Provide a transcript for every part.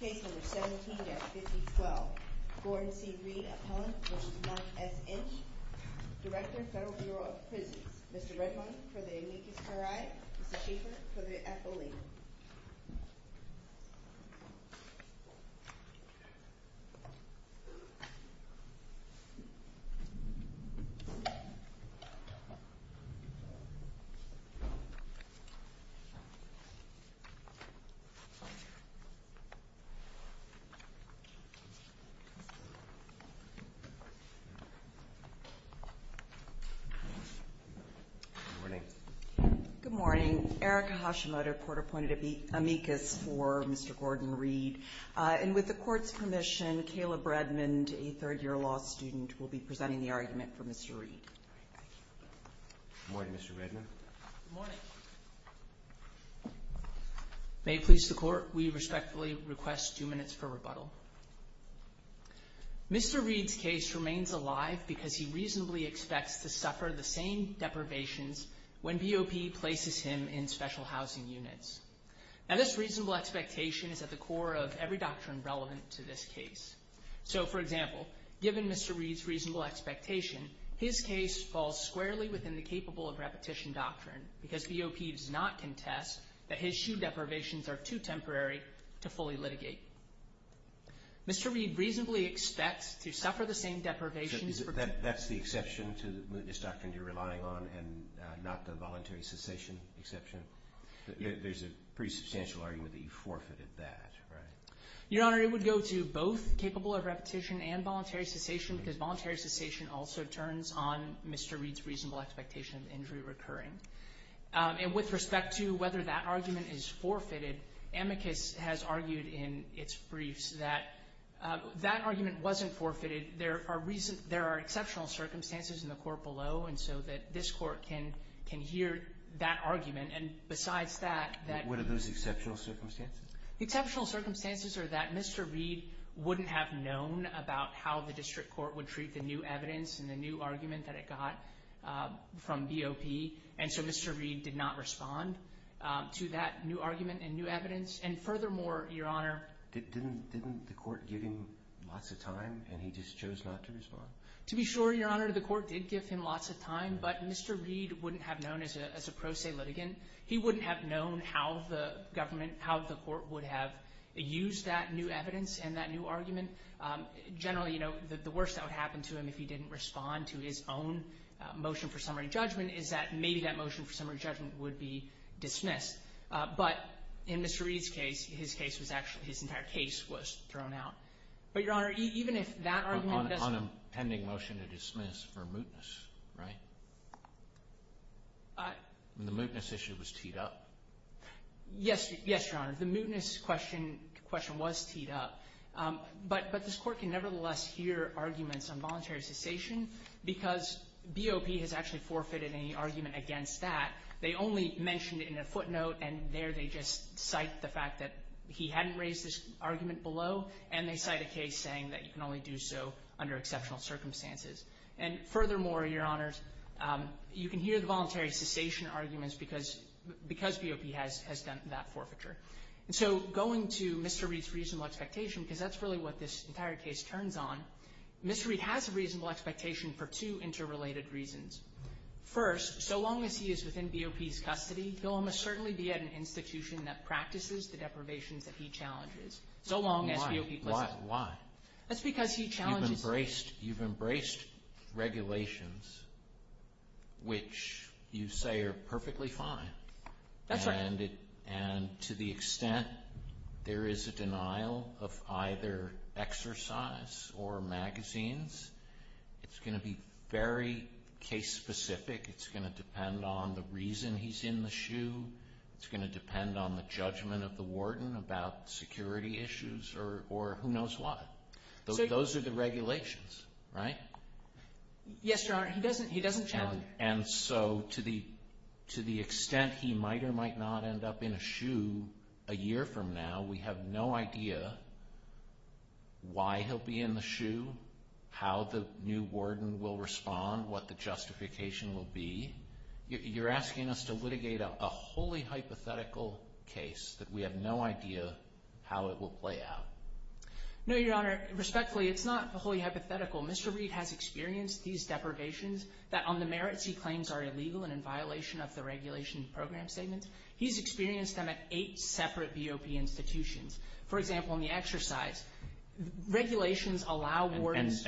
Case number 17-5012. Gordon C. Reid, appellant v. Mark S. Inch, Director, Federal Bureau of Prisons. Mr. Redmond for the amicus curiae, Mr. Schaefer for the affoliate. Good morning. Good morning. Eric Hashimoto, court-appointed amicus for Mr. Gordon Reid. And with the court's permission, Kayla Bredman, a third-year law student, will be presenting the argument for Mr. Reid. Good morning, Mr. Redmond. Good morning. May it please the Court, we respectfully request two minutes for rebuttal. Mr. Reid's case remains alive because he reasonably expects to suffer the same deprivations when BOP places him in special housing units. Now, this reasonable expectation is at the core of every doctrine relevant to this case. So, for example, given Mr. Reid's reasonable expectation, his case falls squarely within the capable of repetition doctrine because BOP does not contest that his shoe deprivations are too temporary to fully litigate. Mr. Reid reasonably expects to suffer the same deprivations. That's the exception to the mootness doctrine you're relying on and not the voluntary cessation exception? There's a pretty substantial argument that you forfeited that, right? Your Honor, it would go to both capable of repetition and voluntary cessation because voluntary cessation also turns on Mr. Reid's reasonable expectation of injury recurring. And with respect to whether that argument is forfeited, amicus has argued in its briefs that that argument wasn't forfeited. There are exceptional circumstances in the court below, and so that this Court can hear that argument. And besides that, what are those exceptional circumstances? Exceptional circumstances are that Mr. Reid wouldn't have known about how the district court would treat the new evidence and the new argument that it got from BOP, and so Mr. Reid did not respond to that new argument and new evidence. And furthermore, Your Honor, didn't the court give him lots of time and he just chose not to respond? In his case, his entire case was thrown out. But, Your Honor, even if that argument doesn't— On a pending motion to dismiss for mootness, right? The mootness issue was teed up? Yes, Your Honor. The mootness question was teed up. But this Court can nevertheless hear arguments on voluntary cessation because BOP has actually forfeited any argument against that. They only mentioned it in a footnote, and there they just cite the fact that he hadn't raised this argument below, and they cite a case saying that you can only do so under exceptional circumstances. And furthermore, Your Honors, you can hear the voluntary cessation arguments because BOP has done that forfeiture. And so going to Mr. Reid's reasonable expectation, because that's really what this entire case turns on, Mr. Reid has a reasonable expectation for two interrelated reasons. First, so long as he is within BOP's custody, he'll almost certainly be at an institution that practices the deprivations that he challenges, so long as BOP— Why? Why? Why? That's because he challenges— You've embraced regulations which you say are perfectly fine. That's right. And to the extent there is a denial of either exercise or magazines, it's going to be very case-specific. It's going to depend on the reason he's in the shoe. It's going to depend on the judgment of the warden about security issues or who knows what. Those are the regulations, right? Yes, Your Honor. He doesn't challenge. And so to the extent he might or might not end up in a shoe a year from now, we have no idea why he'll be in the shoe, how the new warden will respond, what the justification will be. You're asking us to litigate a wholly hypothetical case that we have no idea how it will play out. No, Your Honor. Respectfully, it's not wholly hypothetical. Mr. Reed has experienced these deprivations that on the merits he claims are illegal and in violation of the regulation program statements. He's experienced them at eight separate BOP institutions. For example, in the exercise, regulations allow wardens—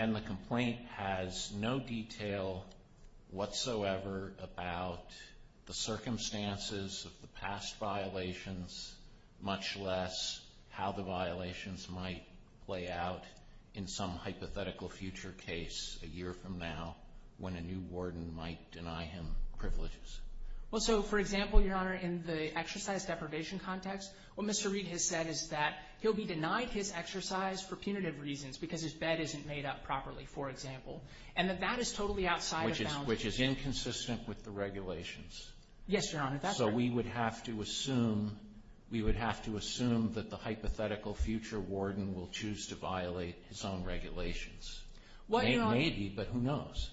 —play out in some hypothetical future case a year from now when a new warden might deny him privileges. Well, so, for example, Your Honor, in the exercise deprivation context, what Mr. Reed has said is that he'll be denied his exercise for punitive reasons because his bed isn't made up properly, for example. And that that is totally outside of— Which is inconsistent with the regulations. Yes, Your Honor. That's right. So we would have to assume that the hypothetical future warden will choose to violate his own regulations. Maybe, but who knows?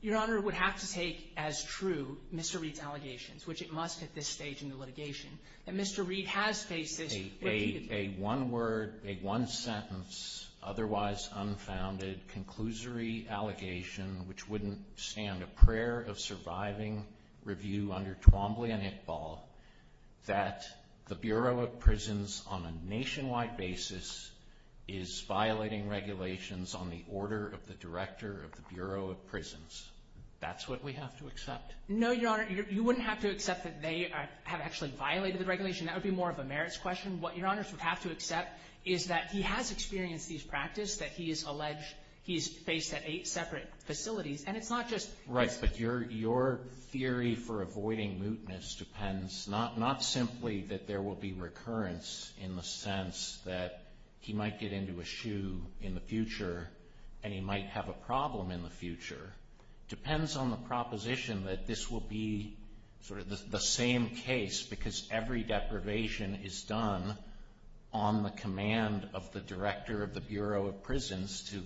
Your Honor, it would have to take as true Mr. Reed's allegations, which it must at this stage in the litigation, that Mr. Reed has faced this repeated— —that the Bureau of Prisons on a nationwide basis is violating regulations on the order of the director of the Bureau of Prisons. That's what we have to accept. No, Your Honor, you wouldn't have to accept that they have actually violated the regulation. That would be more of a merits question. What Your Honor would have to accept is that he has experienced these practices that he has alleged he has faced at eight separate facilities. And it's not just— Right, but your theory for avoiding mootness depends not simply that there will be recurrence in the sense that he might get into a shoe in the future and he might have a problem in the future. It depends on the proposition that this will be sort of the same case because every deprivation is done on the command of the director of the Bureau of Prisons to,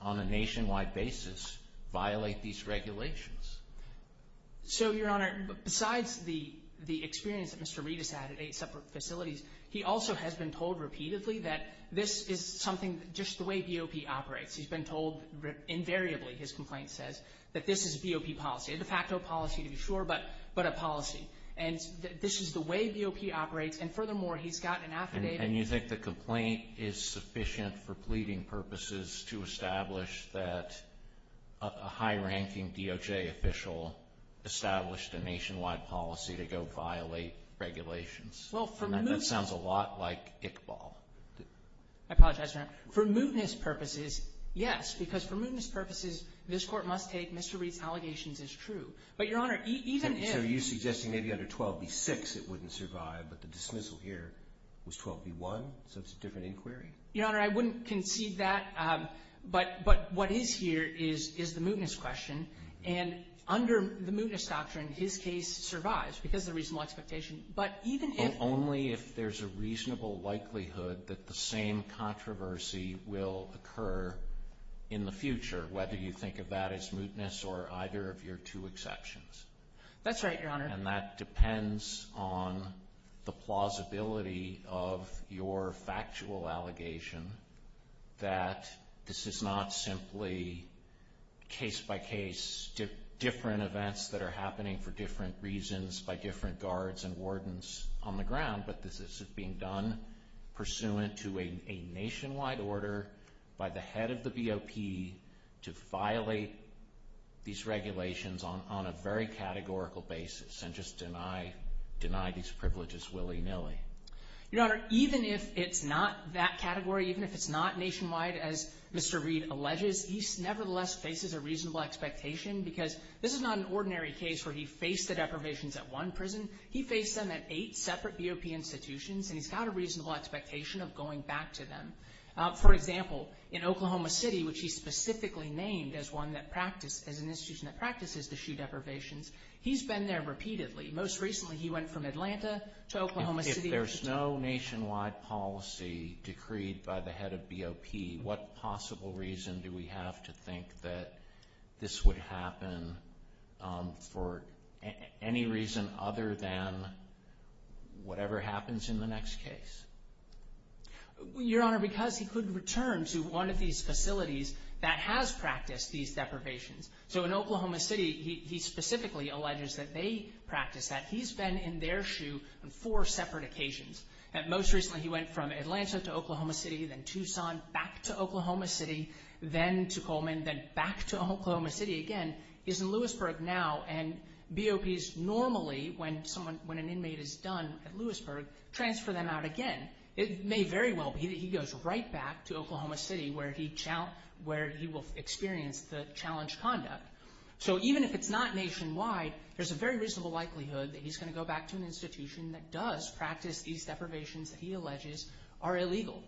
on a nationwide basis, violate these regulations. So, Your Honor, besides the experience that Mr. Reed has had at eight separate facilities, he also has been told repeatedly that this is something—just the way BOP operates. He's been told invariably, his complaint says, that this is BOP policy. A de facto policy, to be sure, but a policy. And this is the way BOP operates, and furthermore, he's gotten affidavit— to establish that a high-ranking DOJ official established a nationwide policy to go violate regulations. Well, for moot— That sounds a lot like Iqbal. I apologize, Your Honor. For mootness purposes, yes, because for mootness purposes, this Court must take Mr. Reed's allegations as true. But, Your Honor, even if— So, are you suggesting maybe under 12b-6 it wouldn't survive, but the dismissal here was 12b-1, so it's a different inquiry? Your Honor, I wouldn't concede that, but what is here is the mootness question. And under the mootness doctrine, his case survives because of the reasonable expectation. But even if— Only if there's a reasonable likelihood that the same controversy will occur in the future, whether you think of that as mootness or either of your two exceptions. That's right, Your Honor. And that depends on the plausibility of your factual allegation that this is not simply case-by-case different events that are happening for different reasons by different guards and wardens on the ground, but this is being done pursuant to a nationwide order by the head of the VOP to violate these regulations on a very categorical basis. And just deny these privileges willy-nilly. Your Honor, even if it's not that category, even if it's not nationwide, as Mr. Reed alleges, he nevertheless faces a reasonable expectation because this is not an ordinary case where he faced the deprivations at one prison. He faced them at eight separate VOP institutions, and he's got a reasonable expectation of going back to them. For example, in Oklahoma City, which he specifically named as an institution that practices the shoe deprivations, he's been there repeatedly. Most recently, he went from Atlanta to Oklahoma City. If there's no nationwide policy decreed by the head of VOP, what possible reason do we have to think that this would happen for any reason other than whatever happens in the next case? Your Honor, because he could return to one of these facilities that has practiced these deprivations. So in Oklahoma City, he specifically alleges that they practice that. He's been in their shoe on four separate occasions. Most recently, he went from Atlanta to Oklahoma City, then Tucson, back to Oklahoma City, then to Coleman, then back to Oklahoma City again. He's in Lewisburg now, and VOPs normally, when an inmate is done at Lewisburg, transfer them out again. It may very well be that he goes right back to Oklahoma City, where he will experience the challenge conduct. So even if it's not nationwide, there's a very reasonable likelihood that he's going to go back to an institution that does practice these deprivations that he alleges are illegal.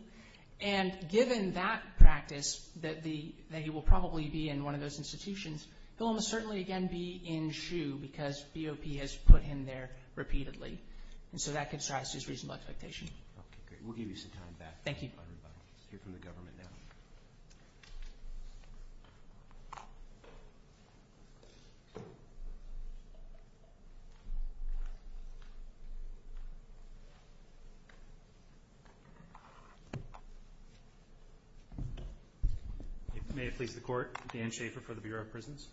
And given that practice, that he will probably be in one of those institutions, he'll almost certainly again be in shoe because VOP has put him there repeatedly. And so that gives us his reasonable expectation. Okay, great. We'll give you some time back. Thank you. We'll hear from the government now. May it please the Court, Dan Schafer for the Bureau of Prisons.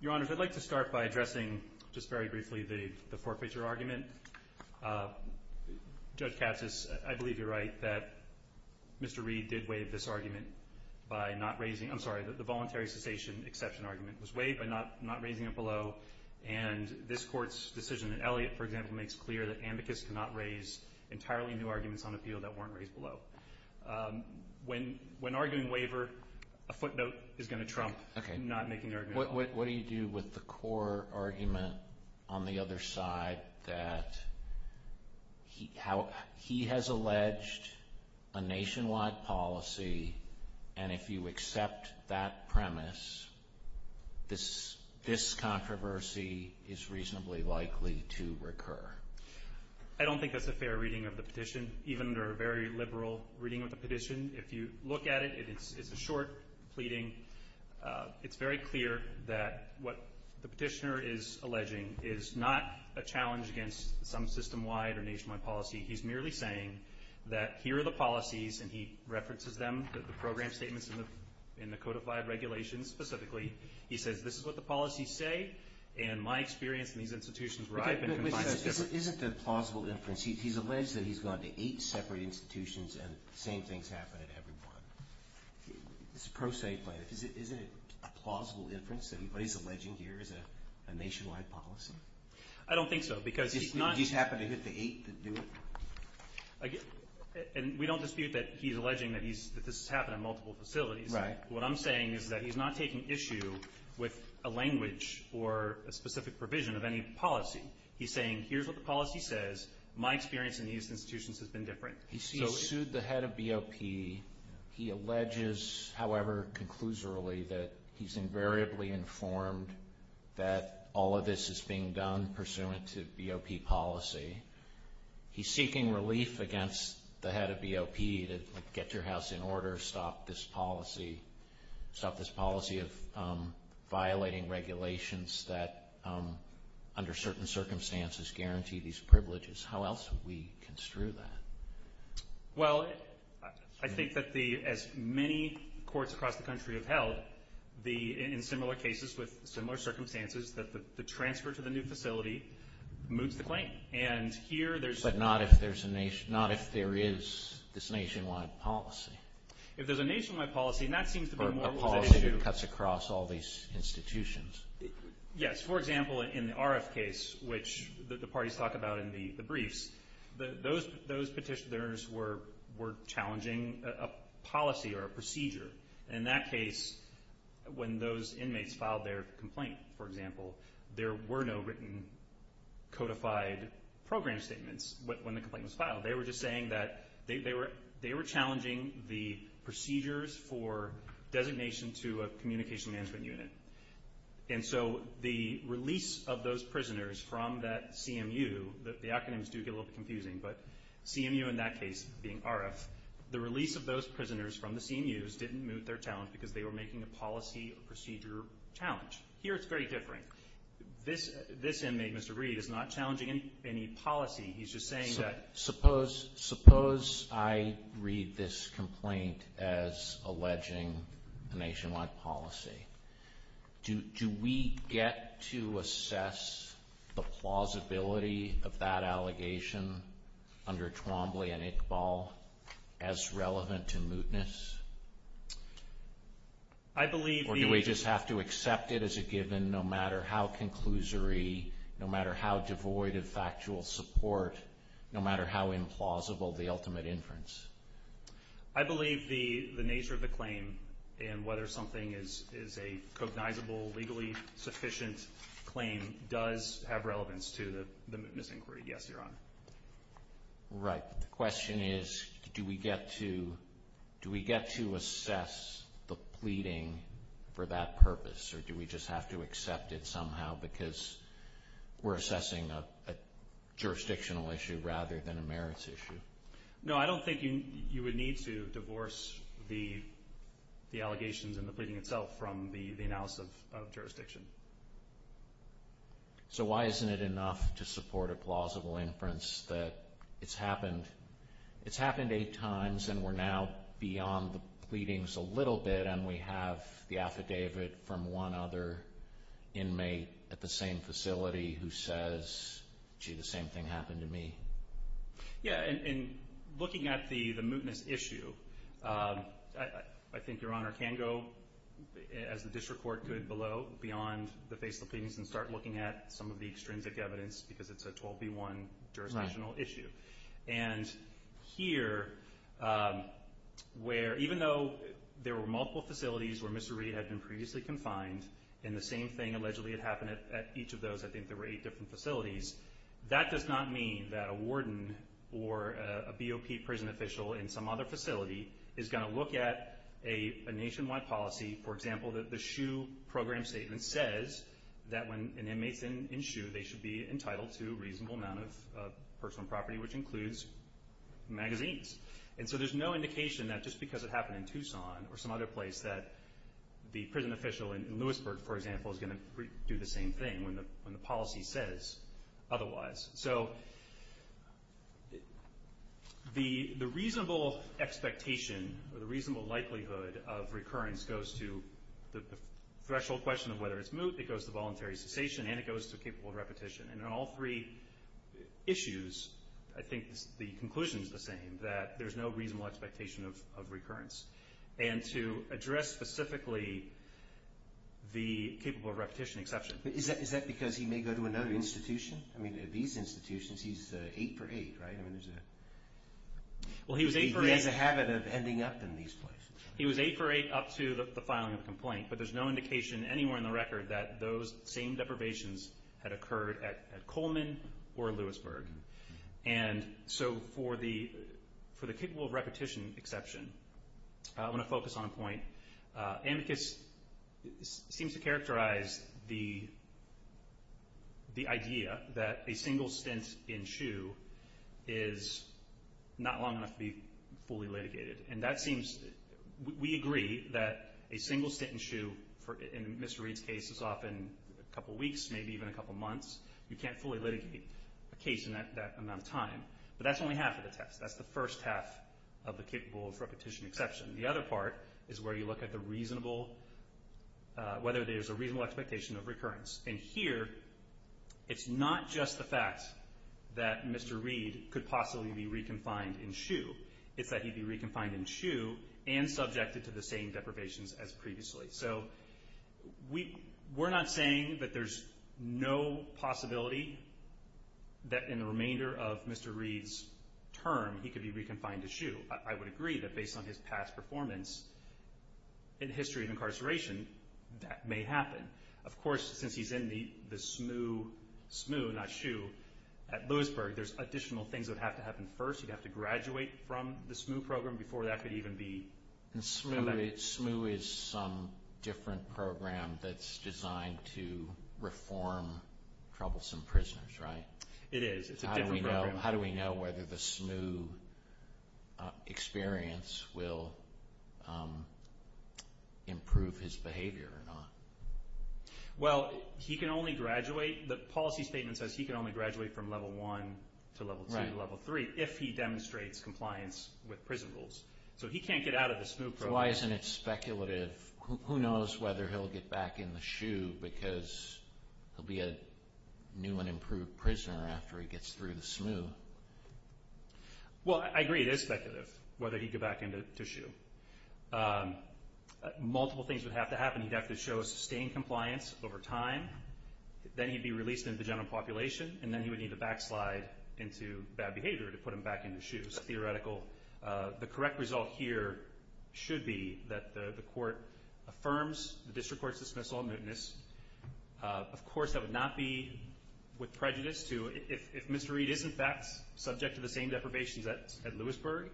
Your Honor, I'd like to start by addressing just very briefly the forfeiture argument. Judge Katsas, I believe you're right that Mr. Reed did waive this argument by not raising, I'm sorry, the voluntary cessation exception argument. It was waived by not raising it below. And this Court's decision in Elliott, for example, makes clear that amicus cannot raise entirely new arguments on appeal that weren't raised below. When arguing waiver, a footnote is going to trump not making the argument. What do you do with the core argument on the other side that he has alleged a nationwide policy, and if you accept that premise, this controversy is reasonably likely to recur? I don't think that's a fair reading of the petition, even under a very liberal reading of the petition. If you look at it, it's a short pleading. It's very clear that what the petitioner is alleging is not a challenge against some system-wide or nationwide policy. He's merely saying that here are the policies, and he references them, the program statements in the codified regulations specifically. He says this is what the policies say, and my experience in these institutions where I've been confines it differently. Isn't it a plausible inference? He's alleged that he's gone to eight separate institutions, and the same things happen at every one. It's a pro se plaintiff. Isn't it a plausible inference that what he's alleging here is a nationwide policy? I don't think so, because he's not – Did he just happen to hit the eight that do it? We don't dispute that he's alleging that this has happened at multiple facilities. Right. What I'm saying is that he's not taking issue with a language or a specific provision of any policy. He's saying here's what the policy says. My experience in these institutions has been different. So he sued the head of BOP. He alleges, however conclusorily, that he's invariably informed that all of this is being done pursuant to BOP policy. He's seeking relief against the head of BOP to get your house in order, stop this policy, of violating regulations that, under certain circumstances, guarantee these privileges. How else would we construe that? Well, I think that as many courts across the country have held, in similar cases with similar circumstances, that the transfer to the new facility moves the claim. But not if there is this nationwide policy. If there's a nationwide policy, and that seems to be more of an issue. Or a policy that cuts across all these institutions. Yes. For example, in the RF case, which the parties talk about in the briefs, those petitioners were challenging a policy or a procedure. In that case, when those inmates filed their complaint, for example, there were no written codified program statements when the complaint was filed. They were just saying that they were challenging the procedures for designation to a communication management unit. And so the release of those prisoners from that CMU, the acronyms do get a little confusing, but CMU in that case, being RF, the release of those prisoners from the CMUs didn't move their challenge because they were making a policy or procedure challenge. Here it's very different. This inmate, Mr. Reed, is not challenging any policy. He's just saying that. Suppose I read this complaint as alleging a nationwide policy. Do we get to assess the plausibility of that allegation under Twombly and Iqbal as relevant to mootness? Or do we just have to accept it as a given no matter how conclusory, no matter how devoid of factual support, no matter how implausible the ultimate inference? I believe the nature of the claim and whether something is a cognizable, legally sufficient claim does have relevance to the mootness inquiry. Yes, Your Honor. Right. The question is do we get to assess the pleading for that purpose or do we just have to accept it somehow because we're assessing a jurisdictional issue rather than a merits issue? No, I don't think you would need to divorce the allegations and the pleading itself from the analysis of jurisdiction. So why isn't it enough to support a plausible inference that it's happened eight times and we're now beyond the pleadings a little bit and we have the affidavit from one other inmate at the same facility who says, gee, the same thing happened to me? Yeah, and looking at the mootness issue, I think Your Honor can go as the district court could below beyond the face of the pleadings and start looking at some of the extrinsic evidence because it's a 12B1 jurisdictional issue. And here where even though there were multiple facilities where Mr. Reed had been previously confined and the same thing allegedly had happened at each of those, I think there were eight different facilities, that does not mean that a warden or a BOP prison official in some other facility is going to look at a nationwide policy, for example, that the SHU program statement says that when an inmate's in SHU, they should be entitled to a reasonable amount of personal property, which includes magazines. And so there's no indication that just because it happened in Tucson or some other place that the prison official in Lewisburg, for example, is going to do the same thing when the policy says otherwise. So the reasonable expectation or the reasonable likelihood of recurrence goes to the threshold question of whether it's moot, it goes to voluntary cessation, and it goes to capable repetition. And in all three issues, I think the conclusion is the same, that there's no reasonable expectation of recurrence. And to address specifically the capable repetition exception. Is that because he may go to another institution? I mean, at these institutions, he's eight for eight, right? He has a habit of ending up in these places. He was eight for eight up to the filing of the complaint, but there's no indication anywhere in the record that those same deprivations had occurred at Coleman or Lewisburg. And so for the capable repetition exception, I want to focus on a point. Amicus seems to characterize the idea that a single stint in SHU is not long enough to be fully litigated. And we agree that a single stint in SHU, in Mr. Reed's case, is often a couple weeks, maybe even a couple months. You can't fully litigate a case in that amount of time. But that's only half of the test. That's the first half of the capable repetition exception. The other part is where you look at the reasonable, whether there's a reasonable expectation of recurrence. And here, it's not just the fact that Mr. Reed could possibly be reconfined in SHU. It's that he'd be reconfined in SHU and subjected to the same deprivations as previously. So we're not saying that there's no possibility that in the remainder of Mr. Reed's term, he could be reconfined to SHU. I would agree that based on his past performance in the history of incarceration, that may happen. Of course, since he's in the SMU, not SHU, at Lewisburg, there's additional things that would have to happen first. He'd have to graduate from the SMU program before that could even be— SMU is some different program that's designed to reform troublesome prisoners, right? It is. It's a different program. How do we know whether the SMU experience will improve his behavior or not? Well, he can only graduate—the policy statement says he can only graduate from Level 1 to Level 2 to Level 3 if he demonstrates compliance with prison rules. So he can't get out of the SMU program. So why isn't it speculative? Who knows whether he'll get back into SHU because he'll be a new and improved prisoner after he gets through the SMU? Well, I agree it is speculative whether he'd get back into SHU. Multiple things would have to happen. He'd have to show sustained compliance over time. Then he'd be released into the general population. And then he would need to backslide into bad behavior to put him back into SHU. The correct result here should be that the court affirms the district court's dismissal of mootness. Of course, that would not be with prejudice. If Mr. Reed is, in fact, subject to the same deprivations at Lewisburg,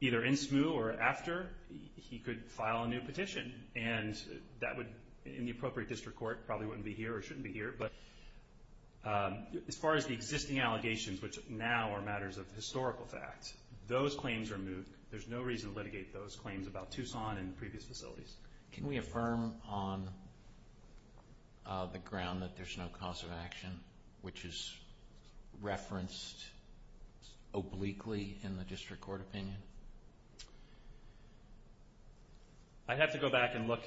either in SMU or after, he could file a new petition. And that would, in the appropriate district court, probably wouldn't be here or shouldn't be here. But as far as the existing allegations, which now are matters of historical fact, those claims are moot. There's no reason to litigate those claims about Tucson and previous facilities. Can we affirm on the ground that there's no cause of action, which is referenced obliquely in the district court opinion? I'd have to go back and look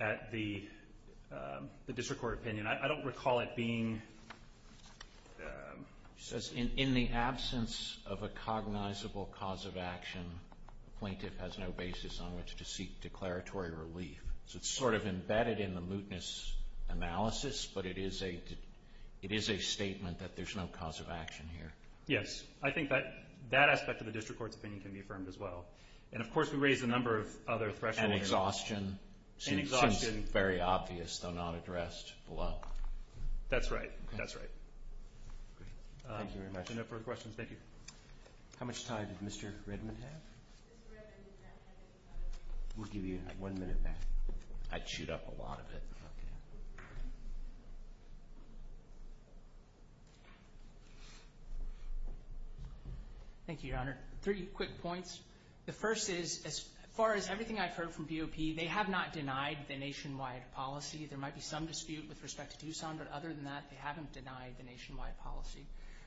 at the district court opinion. I don't recall it being… He says in the absence of a cognizable cause of action, the plaintiff has no basis on which to seek declaratory relief. So it's sort of embedded in the mootness analysis, but it is a statement that there's no cause of action here. Yes. I think that aspect of the district court's opinion can be affirmed as well. And, of course, we raised a number of other thresholds. And exhaustion seems very obvious, though not addressed below. That's right. That's right. Thank you very much. If there are no further questions, thank you. How much time did Mr. Redmond have? We'll give you one minute back. I'd shoot up a lot of it. Thank you, Your Honor. Three quick points. The first is, as far as everything I've heard from BOP, they have not denied the nationwide policy. There might be some dispute with respect to Tucson, but other than that, they haven't denied the nationwide policy.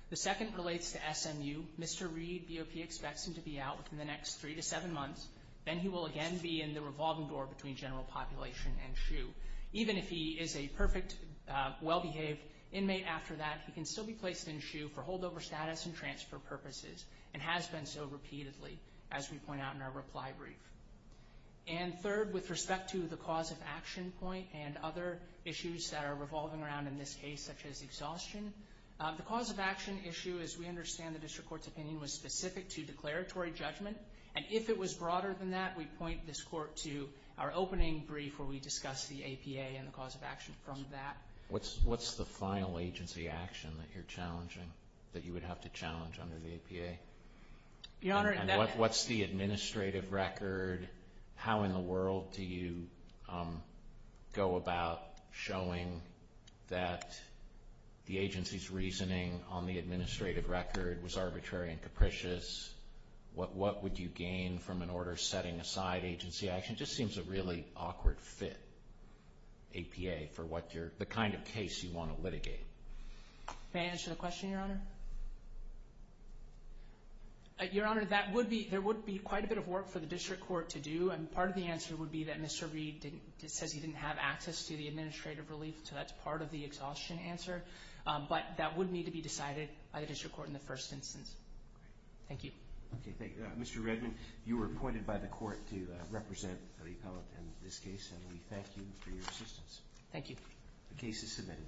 The second relates to SMU. Mr. Reed, BOP, expects him to be out within the next three to seven months. Then he will again be in the revolving door between general population and SHU. Even if he is a perfect, well-behaved inmate after that, he can still be placed in SHU for holdover status and transfer purposes, and has been so repeatedly, as we point out in our reply brief. And third, with respect to the cause of action point and other issues that are revolving around in this case, such as exhaustion, the cause of action issue, as we understand the district court's opinion, was specific to declaratory judgment. And if it was broader than that, we point this court to our opening brief, where we discuss the APA and the cause of action from that. What's the final agency action that you're challenging, that you would have to challenge under the APA? And what's the administrative record? How in the world do you go about showing that the agency's reasoning on the administrative record was arbitrary and capricious? What would you gain from an order setting aside agency action? It just seems a really awkward fit, APA, for the kind of case you want to litigate. May I answer the question, Your Honor? Your Honor, there would be quite a bit of work for the district court to do, and part of the answer would be that Mr. Reed says he didn't have access to the administrative relief, so that's part of the exhaustion answer. But that would need to be decided by the district court in the first instance. Thank you. Okay, thank you. Mr. Redman, you were appointed by the court to represent the appellate in this case, and we thank you for your assistance. Thank you. The case is submitted.